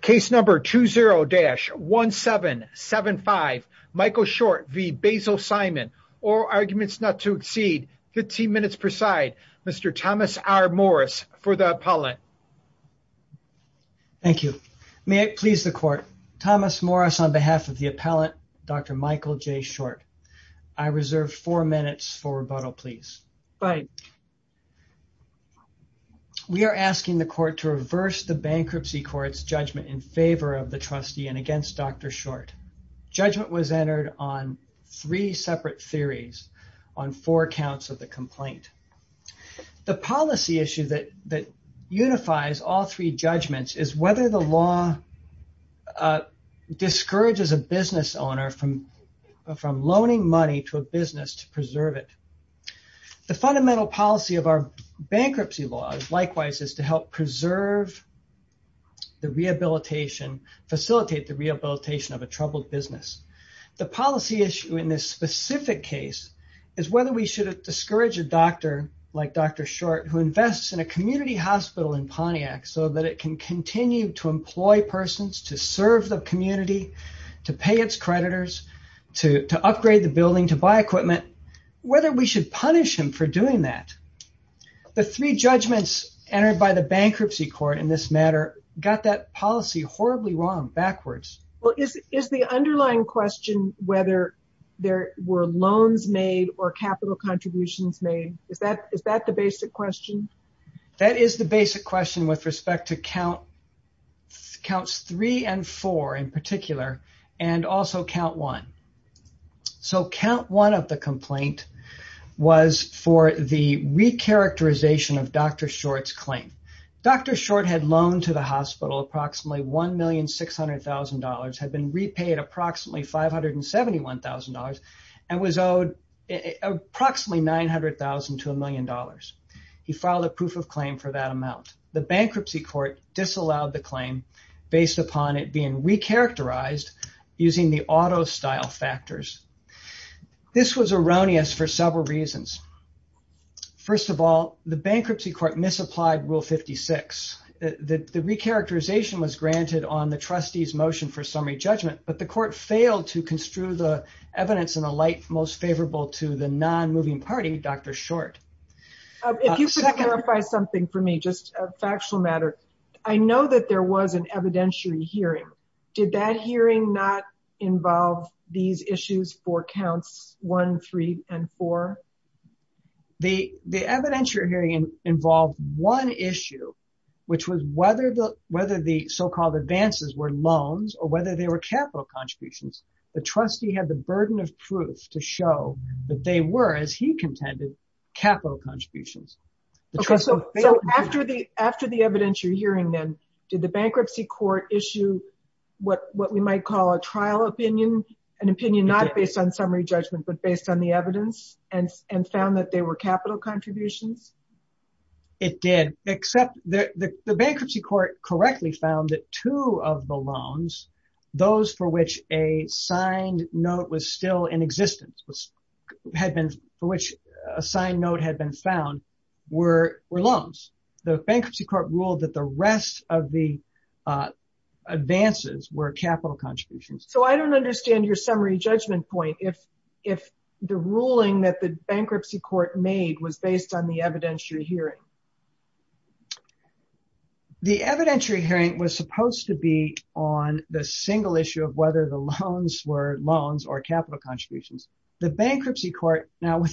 Case number 20-1775. Michael Short v. Basil Simon. All arguments not to exceed 15 minutes per side. Mr. Thomas R. Morris for the appellant. Thank you. May it please the court. Thomas Morris on behalf of the appellant, Dr. Michael J. Short. I reserve four minutes for rebuttal, please. Right. We are asking the court to reverse the bankruptcy court's judgment in favor of the trustee and against Dr. Short. Judgment was entered on three separate theories on four counts of the complaint. The policy issue that unifies all three judgments is whether the law discourages a business owner from loaning money to a business to preserve it. The fundamental policy of our bankruptcy laws, likewise, is to help preserve the rehabilitation, facilitate the rehabilitation of a troubled business. The policy issue in this specific case is whether we should discourage a doctor like Dr. Short who invests in a community hospital in Pontiac so that it can continue to employ persons to serve the community, to pay its creditors, to upgrade the building, to buy equipment, whether we should punish him for doing that. The three judgments entered by the bankruptcy court in this matter got that policy horribly wrong backwards. Is the underlying question whether there were loans made or capital contributions made, is that the basic question? That is the basic question with respect to counts three and four in particular and also count one. Count one of the complaint was for the recharacterization of Dr. Short's claim. Dr. Short had loaned to the hospital approximately $1,600,000, had been repaid approximately $571,000, and was owed approximately $900,000 to $1 million. He filed a proof of claim for that amount. The bankruptcy court disallowed the claim based upon it being recharacterized using the auto style factors. This was erroneous for several reasons. First of all, the bankruptcy court misapplied Rule 56. The recharacterization was granted on the trustee's motion for summary judgment, but the court failed to construe the most favorable to the non-moving party, Dr. Short. If you could clarify something for me, just a factual matter. I know that there was an evidentiary hearing. Did that hearing not involve these issues for counts one, three, and four? The evidentiary hearing involved one issue, which was whether the so-called advances were loans or whether they were capital contributions. The trustee had the burden of proof to show that they were, as he contended, capital contributions. After the evidentiary hearing, then, did the bankruptcy court issue what we might call a trial opinion, an opinion not based on summary judgment but based on the evidence, and found that they were capital contributions? It did, except the bankruptcy court correctly found that of the loans, those for which a signed note was still in existence, for which a signed note had been found, were loans. The bankruptcy court ruled that the rest of the advances were capital contributions. I don't understand your summary judgment point if the ruling that the bankruptcy court made was based on the evidentiary hearing. The evidentiary hearing was supposed to be on the single issue of whether the loans were loans or capital contributions. The bankruptcy court now, I'm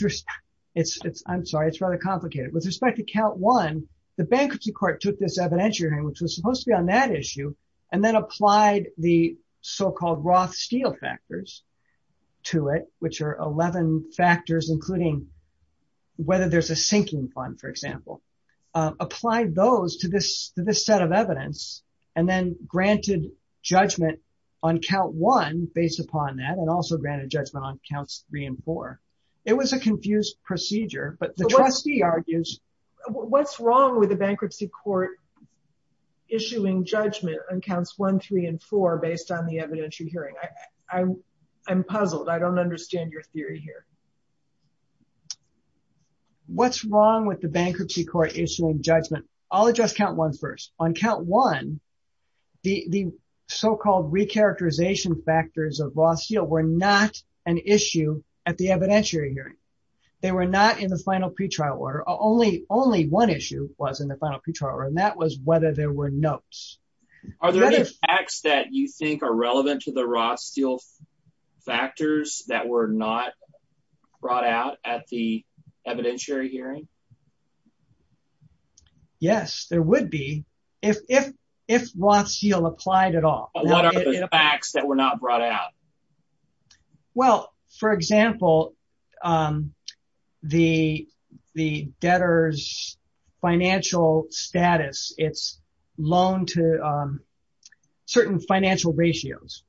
sorry, it's rather complicated. With respect to count one, the bankruptcy court took this evidentiary hearing, which was supposed to be on that issue, and then applied the so-called Roth factors to it, which are 11 factors, including whether there's a sinking fund, for example, applied those to this set of evidence, and then granted judgment on count one based upon that, and also granted judgment on counts three and four. It was a confused procedure, but the trustee argues what's wrong with the bankruptcy court issuing judgment on counts one, three, and four based on the evidentiary hearing. I'm puzzled. I don't understand your theory here. What's wrong with the bankruptcy court issuing judgment? I'll address count one first. On count one, the so-called re-characterization factors of Roth-Steele were not an issue at the evidentiary hearing. They were not in the final pretrial order. Only one issue was in the final pretrial order, and that was whether there were notes. Are there any facts that you think are relevant to the Roth-Steele factors that were not brought out at the evidentiary hearing? Yes, there would be, if Roth-Steele applied at all. What are the facts that were not brought out? Well, for example, the debtor's financial status, its loan to certain financial ratios.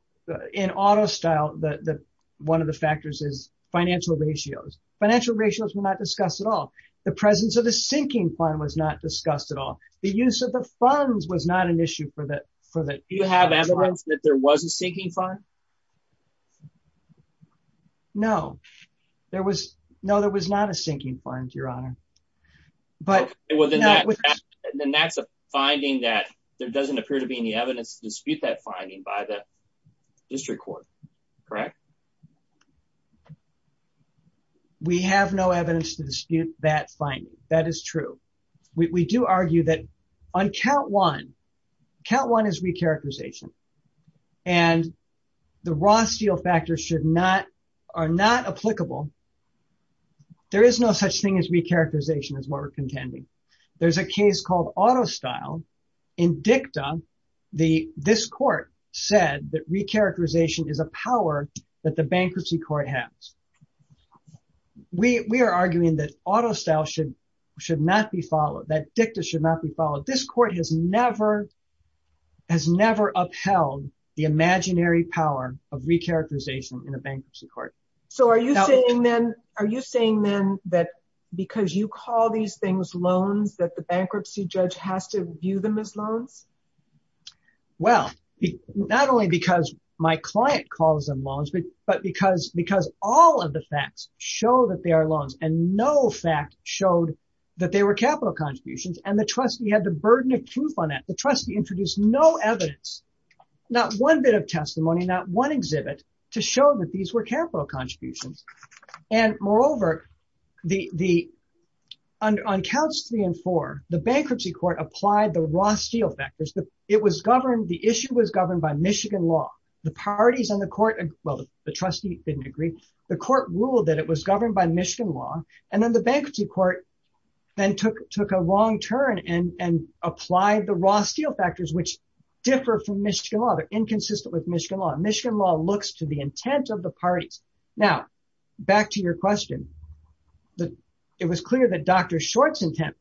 In auto style, one of the factors is financial ratios. Financial ratios were not discussed at all. The presence of the sinking fund was not discussed at all. The use of the funds was not an issue. Do you have evidence that there was a sinking fund? No. No, there was not a sinking fund, Your Honor. Then that's a finding that there doesn't appear to be any evidence to dispute that finding by the district court, correct? We have no evidence to dispute that finding. That is true. We do argue that on count one, count one is re-characterization, and the Roth-Steele factors are not applicable. There is no such thing as re-characterization is what we're contending. There's a case called auto style. In dicta, this court said that re-characterization is a power that the bankruptcy court has. We are arguing that auto style should not be followed, that dicta should not be followed. This court has never upheld the imaginary power of re-characterization in a bankruptcy court. Are you saying then that because you call these things loans that the bankruptcy judge has to view them as loans? Well, not only because my client calls them loans, but because all of the facts show that they are loans, and no fact showed that they were capital contributions, and the trustee had the burden of proof on that. The trustee introduced no evidence, not one bit of testimony, not one exhibit to show that these were capital contributions. Moreover, on counts three and four, the bankruptcy court applied the Roth-Steele factors. The issue was governed by Michigan law. The parties on the court, well, the trustee didn't agree. The court ruled that it was governed by Michigan law, and then the bankruptcy court then took a wrong turn and applied the Roth-Steele factors, which differ from Michigan law. They're inconsistent with Michigan law. Michigan law looks to the intent of the parties. Now, back to your question. It was clear that Dr. Short's intent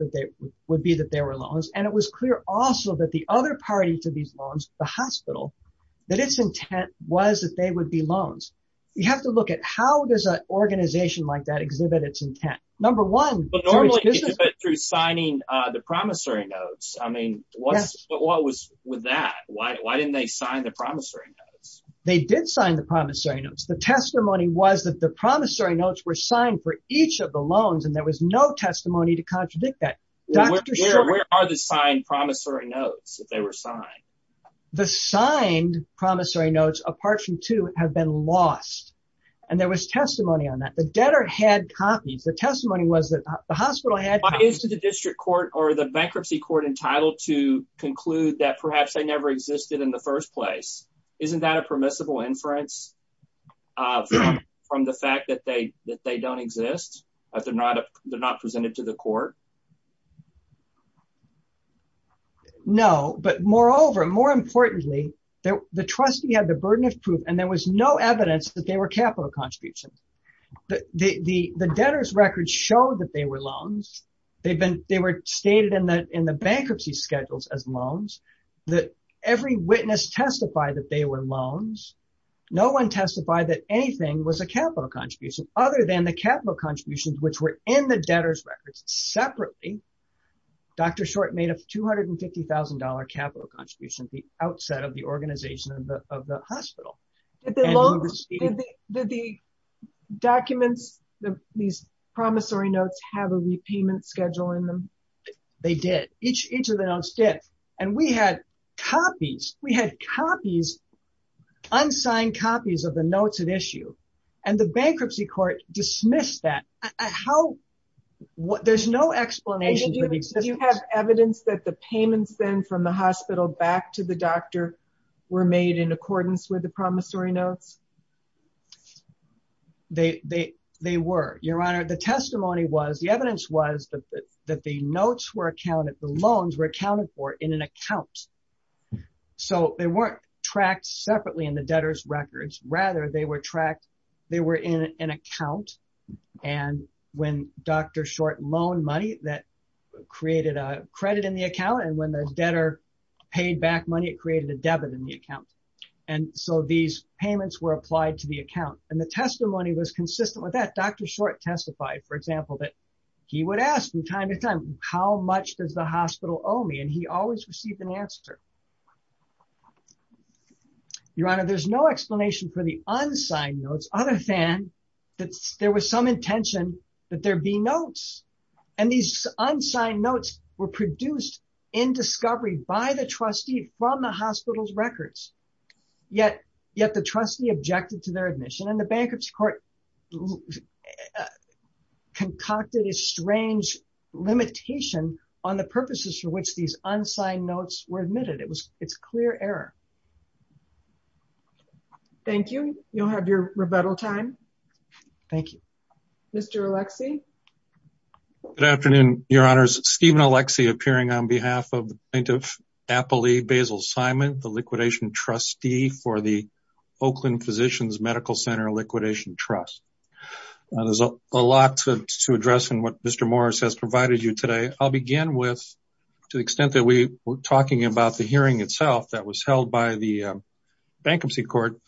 would be that they were loans, and it was clear also that the other party to these loans, the hospital, that its intent was that they would be loans. You have to look at how does an organization like that exhibit its intent. Number one- But normally, through signing the promissory notes. I mean, what was with that? Why didn't they sign the promissory notes? They did sign the promissory notes. The testimony was that the promissory notes were signed for each of the loans, and there was no testimony to contradict that. Dr. Short- Where are the signed promissory notes if they were signed? The signed promissory notes, apart from two, have been lost, and there was testimony on that. The debtor had copies. The testimony was that the hospital had copies- Why is the district court or the bankruptcy court entitled to conclude that perhaps they never existed in the first place? Isn't that a permissible inference from the fact that they don't exist, that they're not presented to the court? Dr. Short- No, but moreover, more importantly, the trustee had the burden of proof, and there was no evidence that they were capital contributions. The debtor's records show that they were loans. They were stated in the bankruptcy schedules as loans. Every witness testified that they were loans. No one testified that anything was a capital contribution, which were in the debtor's records. Separately, Dr. Short made a $250,000 capital contribution at the outset of the organization of the hospital. And we received- Did the documents, these promissory notes, have a repayment schedule in them? Dr. Short- They did. Each of the notes did, and we had copies. We had copies, unsigned copies of the notes at issue, and the bankruptcy court dismissed that. There's no explanation for the existence. Did you have evidence that the payments then from the hospital back to the doctor were made in accordance with the promissory notes? Dr. Short- They were, Your Honor. The testimony was, the evidence was that the notes were accounted for in an account. So they weren't tracked separately in the debtor's records. Rather, they were tracked, they were in an account. And when Dr. Short loaned money, that created a credit in the account, and when the debtor paid back money, it created a debit in the account. And so these payments were applied to the account. And the testimony was consistent with that. Dr. Short testified, for example, that he would ask from time to time, how much does the hospital owe me? And he always received an answer. Your Honor, there's no explanation for the unsigned notes, other than that there was some intention that there be notes. And these unsigned notes were produced in discovery by the trustee from the hospital's records. Yet, yet the trustee objected to their admission, and the bankruptcy court has concocted a strange limitation on the purposes for which these unsigned notes were admitted. It's clear error. Thank you. You'll have your rebuttal time. Thank you. Mr. Alexey. Good afternoon, Your Honors. Stephen Alexey appearing on behalf of the plaintiff, Appley Basil Simon, the liquidation trustee for the Oakland Physicians Medical Center Liquidation Trust. There's a lot to address in what Mr. Morris has provided you today. I'll begin with, to the extent that we were talking about the hearing itself that was held by the bankruptcy court,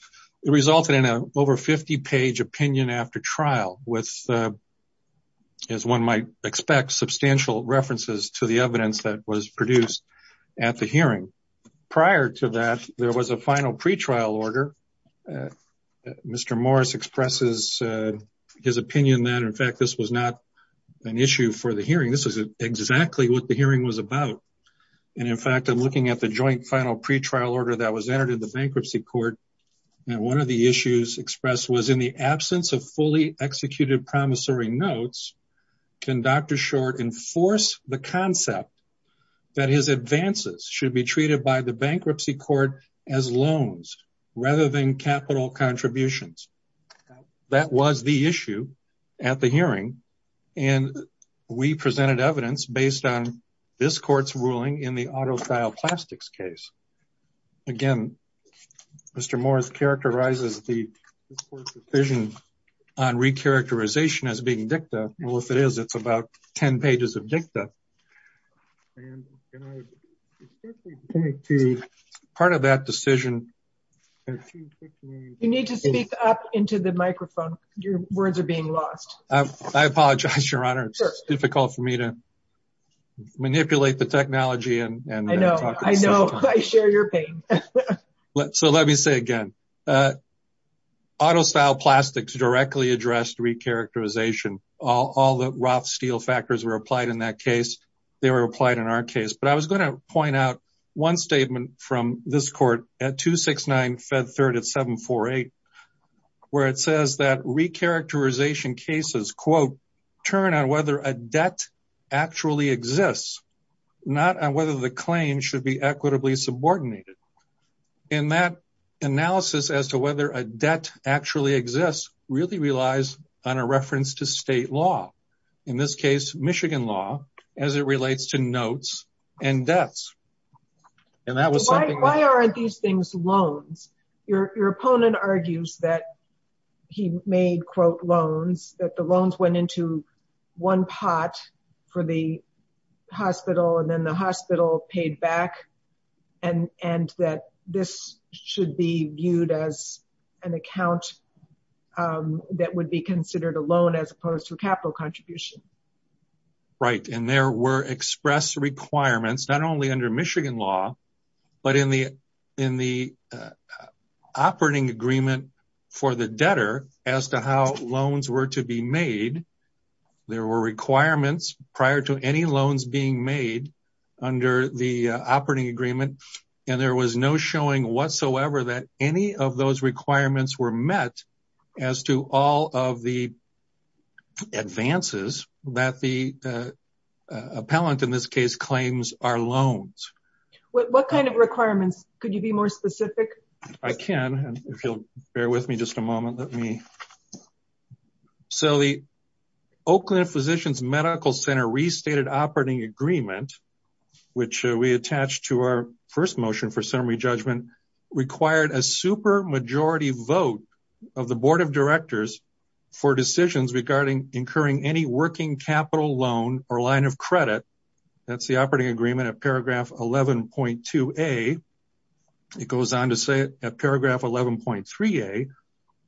it resulted in an over 50-page opinion after trial with, as one might expect, substantial references to the evidence that was produced at the hearing. Prior to that, there was a final pre-trial order. Mr. Morris expresses his opinion that, in fact, this was not an issue for the hearing. This is exactly what the hearing was about. And in fact, I'm looking at the joint final pre-trial order that was entered in the bankruptcy court, and one of the issues expressed was in the absence of fully executed promissory notes, can Dr. Short enforce the concept that his advances should be treated by the bankruptcy court as loans rather than capital contributions? That was the issue at the hearing, and we presented evidence based on this court's ruling in the autofile plastics case. Again, Mr. Morris characterizes the vision on re-characterization as being dicta. Well, to part of that decision. You need to speak up into the microphone. Your words are being lost. I apologize, your honor. It's difficult for me to manipulate the technology. And I know I know I share your pain. So let me say again, autofile plastics directly addressed re-characterization. All the Roth steel factors were applied in that case. They were applied in our case. But I was going to point out one statement from this court at 269 Fed Third at 748, where it says that re-characterization cases, quote, turn on whether a debt actually exists, not on whether the claim should be equitably subordinated. And that analysis as to whether a debt actually exists really relies on a reference to state law. In this case, Michigan law, as it relates to notes and deaths. And that was something why aren't these things loans? Your opponent argues that he made quote loans that the loans went into one pot for the hospital and then the hospital paid back and and that this should be viewed as an account that would be considered a loan as opposed capital contribution. Right. And there were expressed requirements not only under Michigan law, but in the in the operating agreement for the debtor as to how loans were to be made. There were requirements prior to any loans being made under the operating agreement, and there was no showing whatsoever that any of those requirements were met as to all of the advances that the appellant in this case claims are loans. What kind of requirements? Could you be more specific? I can. And if you'll bear with me just a moment, let me. So the Oakland Physicians Medical Center restated operating agreement, which we attached to our first motion for summary judgment, required a super majority vote of the board of directors for decisions regarding incurring any working capital loan or line of credit. That's the operating agreement of paragraph eleven point two a. It goes on to say at paragraph eleven point three a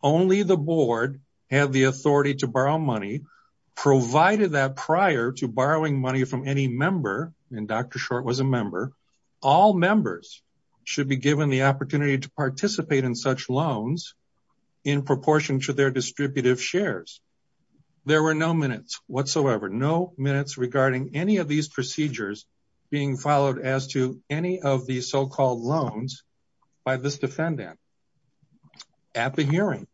only the board had the authority to borrow money, provided that prior to borrowing money from any member. And Dr. Short was a member. All members should be given the opportunity to participate in such loans in proportion to their distributive shares. There were no minutes whatsoever, no minutes regarding any of these procedures being followed as to any of the so-called loans by this defendant at the hearing.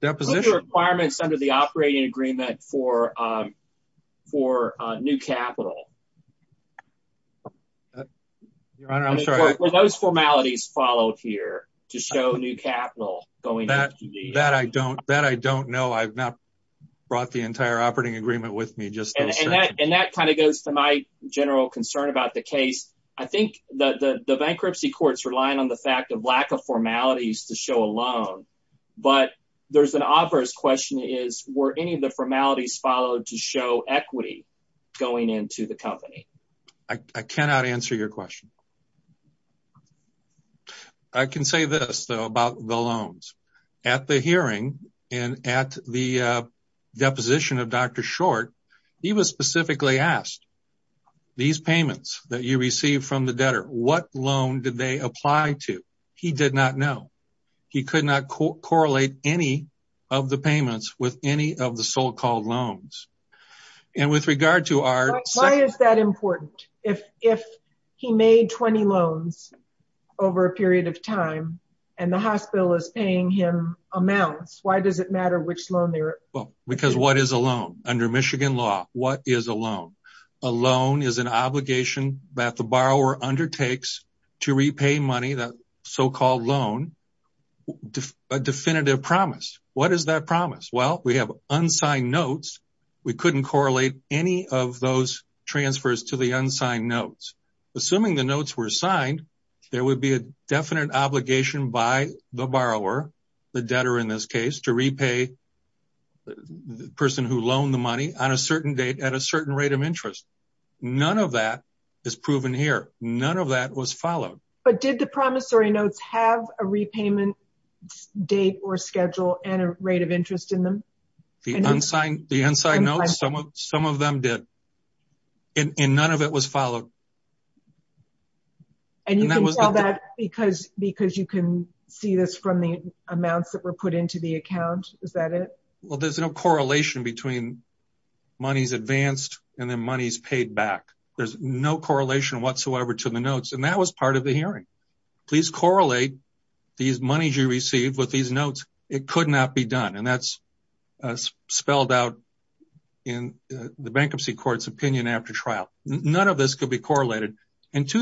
Deposition requirements under the operating agreement for for new capital. Your Honor, I'm sorry. Were those formalities followed here to show new capital? That I don't know. I've not brought the entire operating agreement with me. And that kind of goes to my general concern about the case. I think that the bankruptcy courts rely on the fact of lack of formalities to show a loan. But there's an obvious question is were any of the formalities followed to show equity going into the company? I cannot answer your question. I can say this though about the loans at the hearing and at the deposition of Dr. Short. He was specifically asked these payments that you receive from the debtor. What loan did they apply to? He did not know. He could not correlate any of the payments with any of the so-called loans. And with regard to our... Why is that important? If he made 20 loans over a period of time and the hospital is paying him amounts, why does it matter which loan they're... Well, because what is a loan? Under Michigan law, what is a loan? A loan is an obligation that the borrower undertakes to repay money, that so-called loan, a definitive promise. What is that promise? Well, we have unsigned notes. We couldn't correlate any of those transfers to the unsigned notes. Assuming the notes were signed, there would be a definite obligation by the borrower, the debtor in this case, to repay the person who loaned the money on a certain date at a certain rate of interest. None of that is proven here. None of that was a rate of interest in them? The unsigned notes, some of them did, and none of it was followed. And you can tell that because you can see this from the amounts that were put into the account? Is that it? Well, there's no correlation between money's advanced and then money's paid back. There's no correlation whatsoever to the notes, and that was part of the hearing. Please correlate these monies you received with these notes. It could not be done, and that's spelled out in the bankruptcy court's opinion after trial. None of this could be correlated. If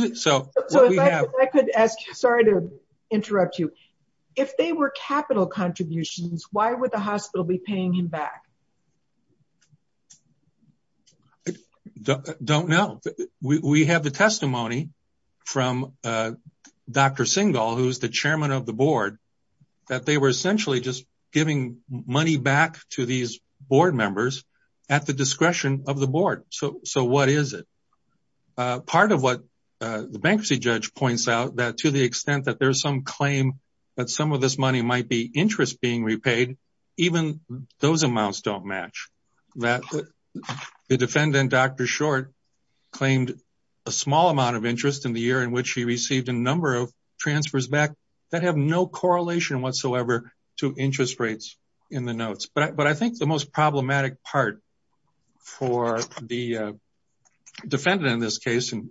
they were capital contributions, why would the hospital be paying him back? I don't know. We have the testimony from Dr. Singal, who's the chairman of the board, that they were essentially just giving money back to these board members at the discretion of the board. So what is it? Part of what the bankruptcy judge points out that to the extent that there's some claim that some of this money might be interest being repaid, even those amounts don't match. The defendant, Dr. Short, claimed a small amount in the year in which he received a number of transfers back that have no correlation whatsoever to interest rates in the notes. But I think the most problematic part for the defendant in this case, and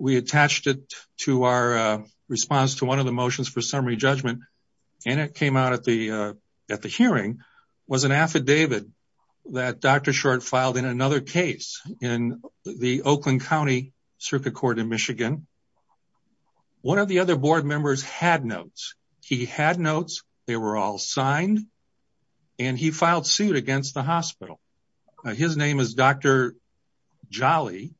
we attached it to our response to one of the motions for summary judgment, and it came out at the hearing, was an affidavit that Dr. Short filed in another case in the Oakland County Circuit Court in Michigan. One of the other board members had notes. He had notes, they were all signed, and he filed suit against the hospital. His name is Dr. Jolly,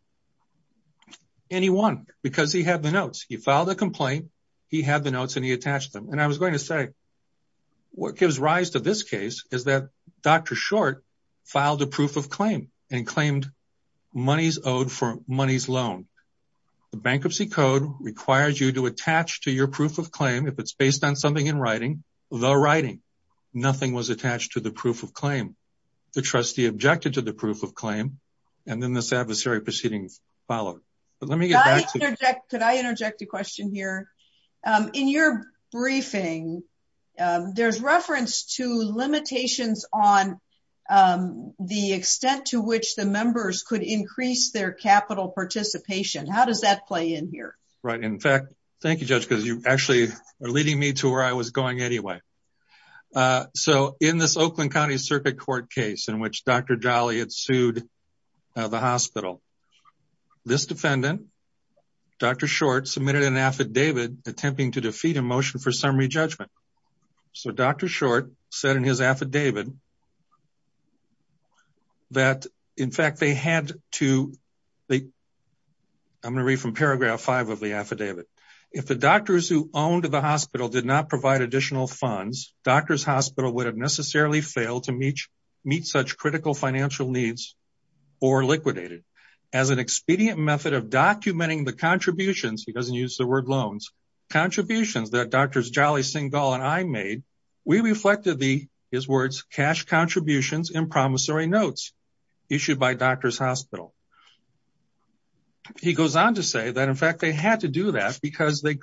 and he won because he had the notes. He filed a complaint, he had the notes, and he attached them. And I was going to say, what gives rise to this case is that Dr. Short filed a proof of claim and claimed money's owed for money's loan. The bankruptcy code requires you to attach to your proof of claim, if it's based on something in writing, the writing. Nothing was attached to the proof of claim. The trustee objected to the proof of claim, and then this adversary proceeding followed. But let me get back to- Could I interject a question here? In your briefing, there's reference to limitations on the extent to which the members could increase their capital participation. How does that play in here? Right. In fact, thank you, Judge, because you actually are leading me to where I was going anyway. So in this Oakland County Circuit Court case in which Dr. Jolly had sued the hospital, this defendant, Dr. Short, submitted an affidavit attempting to defeat a motion for summary judgment. So Dr. Short said in his affidavit that, in fact, they had to- I'm going to read from paragraph five of the affidavit. If the doctors who owned the hospital did not provide additional funds, doctor's hospital would have necessarily failed to meet such critical financial needs or liquidated. As an expedient method of documenting the contributions- he doesn't use the word loans- contributions that Drs. Jolly, Singal, and I made, we reflected the- his words- cash contributions in promissory notes issued by doctor's hospital. He goes on to say that, in fact, they had to do that because they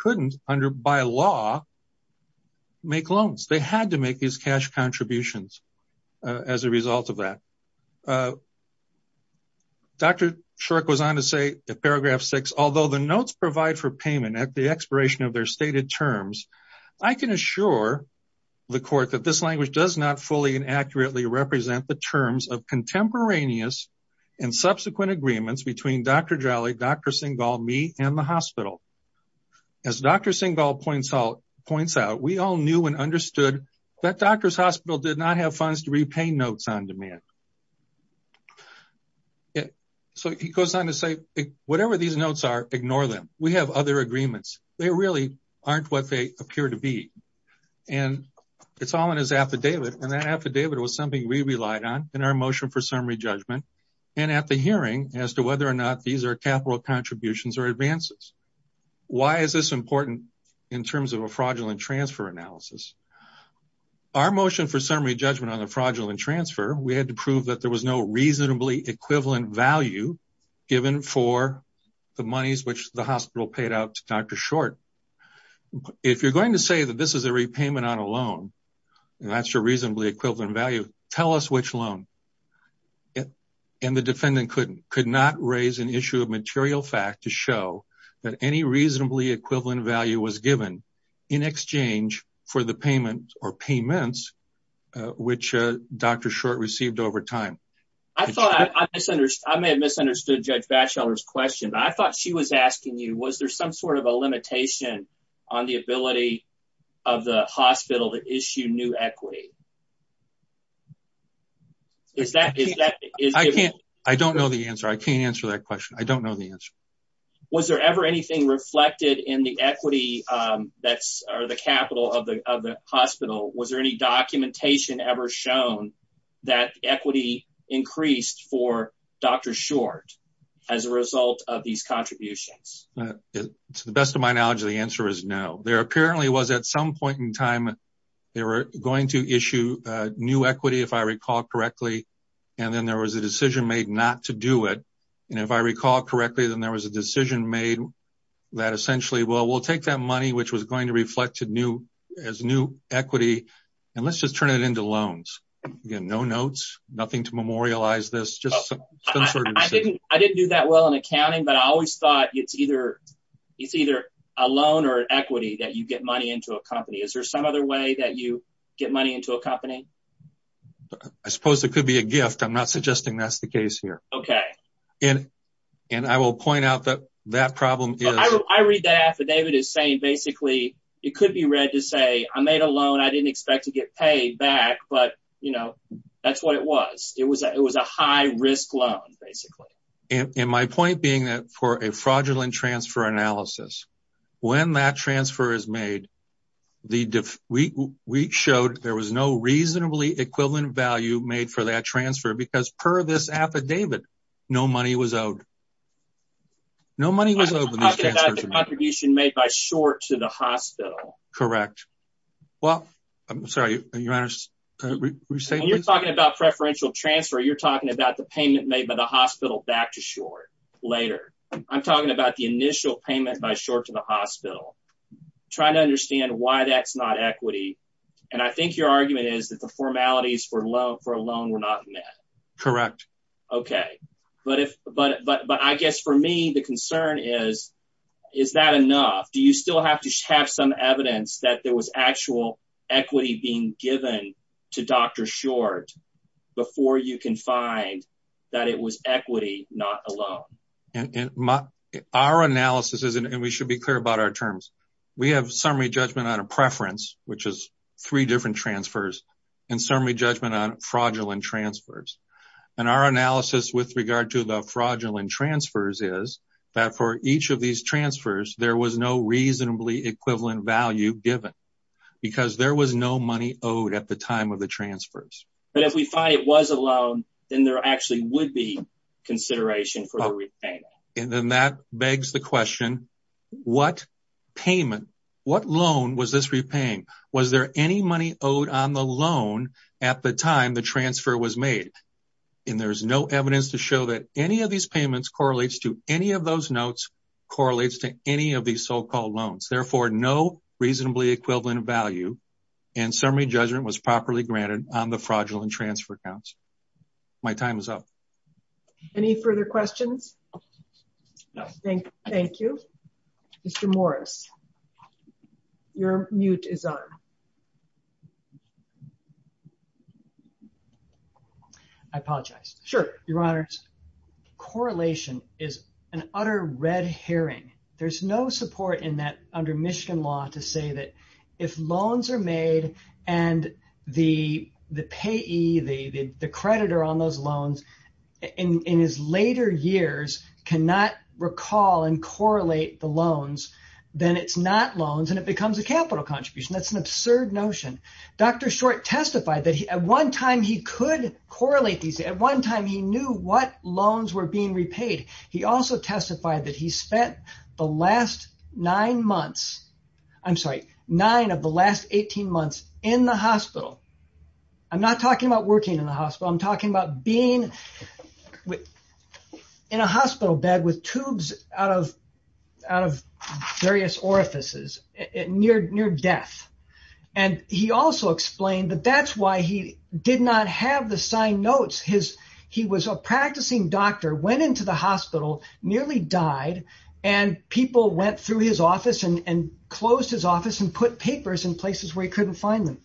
as a result of that. Dr. Short goes on to say in paragraph six, although the notes provide for payment at the expiration of their stated terms, I can assure the court that this language does not fully and accurately represent the terms of contemporaneous and subsequent agreements between Dr. Jolly, Dr. Singal, me, and the hospital. As Dr. Singal points out, we all knew and understood that doctor's hospital did not have funds to repay notes on demand. So, he goes on to say, whatever these notes are, ignore them. We have other agreements. They really aren't what they appear to be. And it's all in his affidavit. And that affidavit was something we relied on in our motion for summary judgment and at the hearing as to whether or not these are capital contributions or advances. Why is this important in terms of a fraudulent transfer analysis? Our motion for summary judgment on the fraudulent transfer, we had to prove that there was no reasonably equivalent value given for the monies which the hospital paid out to Dr. Short. If you're going to say that this is a repayment on a loan, and that's a reasonably equivalent value, tell us which loan. And the defendant could not raise an issue of material fact to show that any reasonably equivalent value was given in exchange for the payment or payments which Dr. Short received over time. I may have misunderstood Judge Batchelor's question. I thought she was asking you, was there some sort of a limitation on the ability of the hospital to issue new equity? I don't know the answer. I can't answer that question. I don't know the answer. Was there ever anything reflected in the equity or the capital of the hospital? Was there any documentation ever shown that equity increased for Dr. Short as a result of these contributions? To the best of my knowledge, the answer is no. There apparently was at some point in time, they were going to issue new equity if I recall correctly, and then there was a decision made that essentially, well, we'll take that money which was going to reflect as new equity, and let's just turn it into loans. Again, no notes, nothing to memorialize this. I didn't do that well in accounting, but I always thought it's either a loan or an equity that you get money into a company. Is there some other way that you get money into a company? I suppose it could be a gift. I'm not suggesting that's the case here. Okay. I will point out that that problem is- I read that affidavit as saying basically, it could be read to say, I made a loan. I didn't expect to get paid back, but that's what it was. It was a high risk loan basically. My point being that for a fraudulent transfer analysis, when that transfer is made, we showed there was no reasonably equivalent value made for that transfer because per this affidavit, no money was owed. No money was owed. I'm talking about the contribution made by short to the hospital. Correct. Well, I'm sorry, your honor. When you're talking about preferential transfer, you're talking about the payment made by the hospital back to short later. I'm talking about the initial payment by short to the hospital, trying to understand why that's not equity. I think your argument is that the formalities for a loan were not met. Correct. Okay. I guess for me, the concern is, is that enough? Do you still have to have some evidence that there was actual equity being given to Dr. Short before you can find that it was equity, not a loan? Our analysis is, and we should be clear about our terms. We have summary judgment on a preference, which is three different transfers and summary judgment on fraudulent transfers. Our analysis with regard to the fraudulent transfers is that for each of these transfers, there was no reasonably equivalent value given because there was no money owed at the time of the transfers. If we find it was a loan, then there actually would be consideration for the repayment. Then that begs the question, what payment, what loan was this repaying? Was there any money owed on the loan at the time the transfer was made? There's no evidence to show that any of these payments correlates to any of those notes, correlates to any of these so-called loans. Therefore, no reasonably equivalent value and summary judgment was properly granted on the questions. Thank you. Mr. Morris, your mute is on. I apologize. Sure, Your Honor. Correlation is an utter red herring. There's no support in that under Michigan law to say that if loans are made and the payee, the creditor on those loans in his later years cannot recall and correlate the loans, then it's not loans and it becomes a capital contribution. That's an absurd notion. Dr. Short testified that at one time, he could correlate these. At one time, he knew what loans were being repaid. He also testified that he spent the last nine months, I'm sorry, nine of the last 18 months in the hospital. I'm not talking about working in the hospital. I'm talking about being in a hospital bed with tubes out of various orifices near death. He also explained that that's why he did not have the signed notes. He was a practicing doctor, went into the hospital, nearly died. People went through his office and closed his office and put papers in places where he couldn't find them.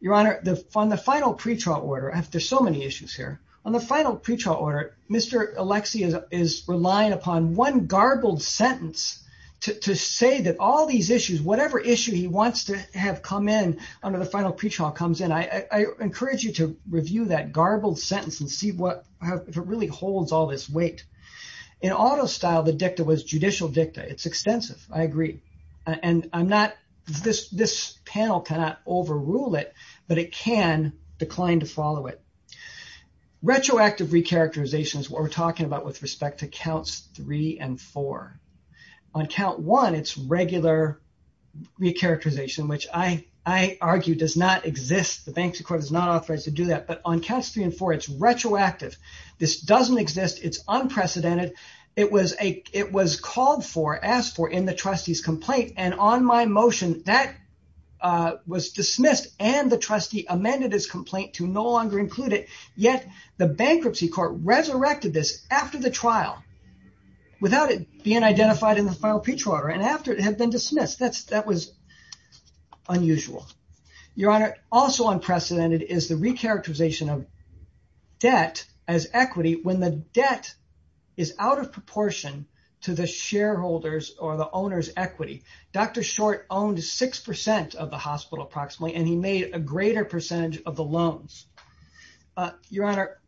Your Honor, on the final pretrial order, there's so many issues here. On the final pretrial order, Mr. Alexie is relying upon one garbled sentence to say that all these issues, whatever issue he wants to have come in under the final pretrial comes in. I encourage you to review that garbled sentence and see if it really holds all this weight. In auto style, the dicta was judicial dicta. It's extensive. I agree. This panel cannot overrule it, but it can decline to follow it. Retroactive recharacterization is what we're talking about with respect to counts three and four. On count one, it's regular recharacterization, which I argue does not exist. The bank's court is not authorized to do that, but on counts three and four, it's retroactive. This doesn't exist. It's unprecedented. It was called for, asked for in the trustee's complaint, and on my motion, that was dismissed and the trustee amended his complaint to no longer include it, yet the bankruptcy court resurrected this after the trial without it being identified in the final pretrial order and after it had been dismissed. That was unusual. Your Honor, also unprecedented is the out of proportion to the shareholders or the owner's equity. Dr. Short owned 6% of the hospital approximately, and he made a greater percentage of the loans. Your Honor,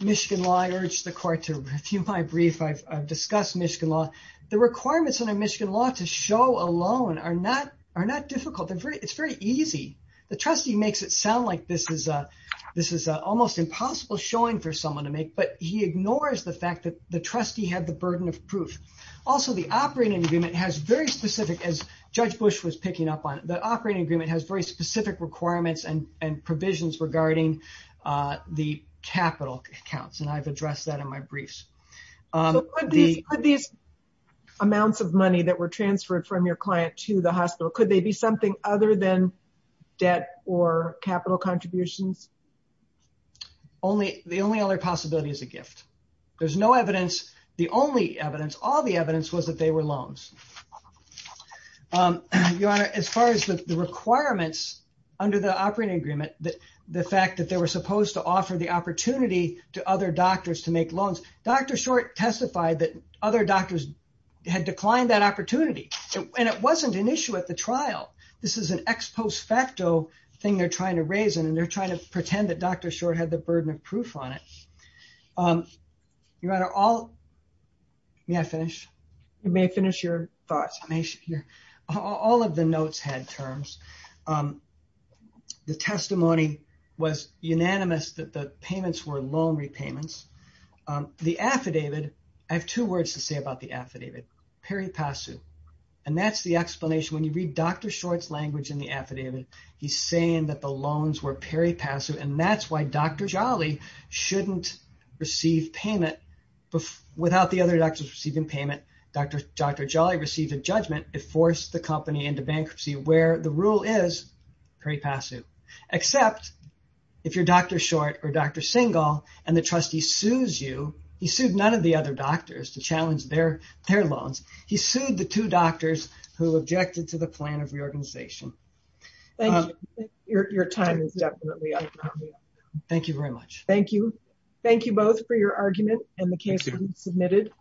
Michigan Law, I urge the court to review my brief. I've discussed Michigan Law. The requirements under Michigan Law to show a loan are not difficult. It's very easy. The trustee makes it sound like this is almost impossible showing for someone to make, but he ignores the fact that the trustee had the burden of proof. Also, the operating agreement has very specific, as Judge Bush was picking up on, the operating agreement has very specific requirements and provisions regarding the capital accounts, and I've addressed that in my briefs. These amounts of money that were transferred from your client to the hospital, could they be something other than debt or capital contributions? The only other possibility is a gift. There's no evidence. The only evidence, all the evidence was that they were loans. Your Honor, as far as the requirements under the operating agreement, the fact that they were supposed to offer the opportunity to other doctors to make loans, Dr. Short testified that other doctors had declined that opportunity, and it wasn't an issue at the trial. This is an ex post facto thing they're trying to raise, and they're trying to prove on it. Your Honor, may I finish? You may finish your thoughts. All of the notes had terms. The testimony was unanimous that the payments were loan repayments. The affidavit, I have two words to say about the affidavit, peri passu, and that's the explanation. When you read Dr. Short's language in the affidavit, he's saying that the loans were peri passu, and that's why Dr. Jolly shouldn't receive payment. Without the other doctors receiving payment, Dr. Jolly received a judgment. It forced the company into bankruptcy where the rule is peri passu, except if you're Dr. Short or Dr. Single and the trustee sues you, he sued none of the other doctors to challenge their loans. He sued the two doctors who objected to plan of reorganization. Thank you. Your time is definitely up. Thank you very much. Thank you. Thank you both for your argument and the case you submitted.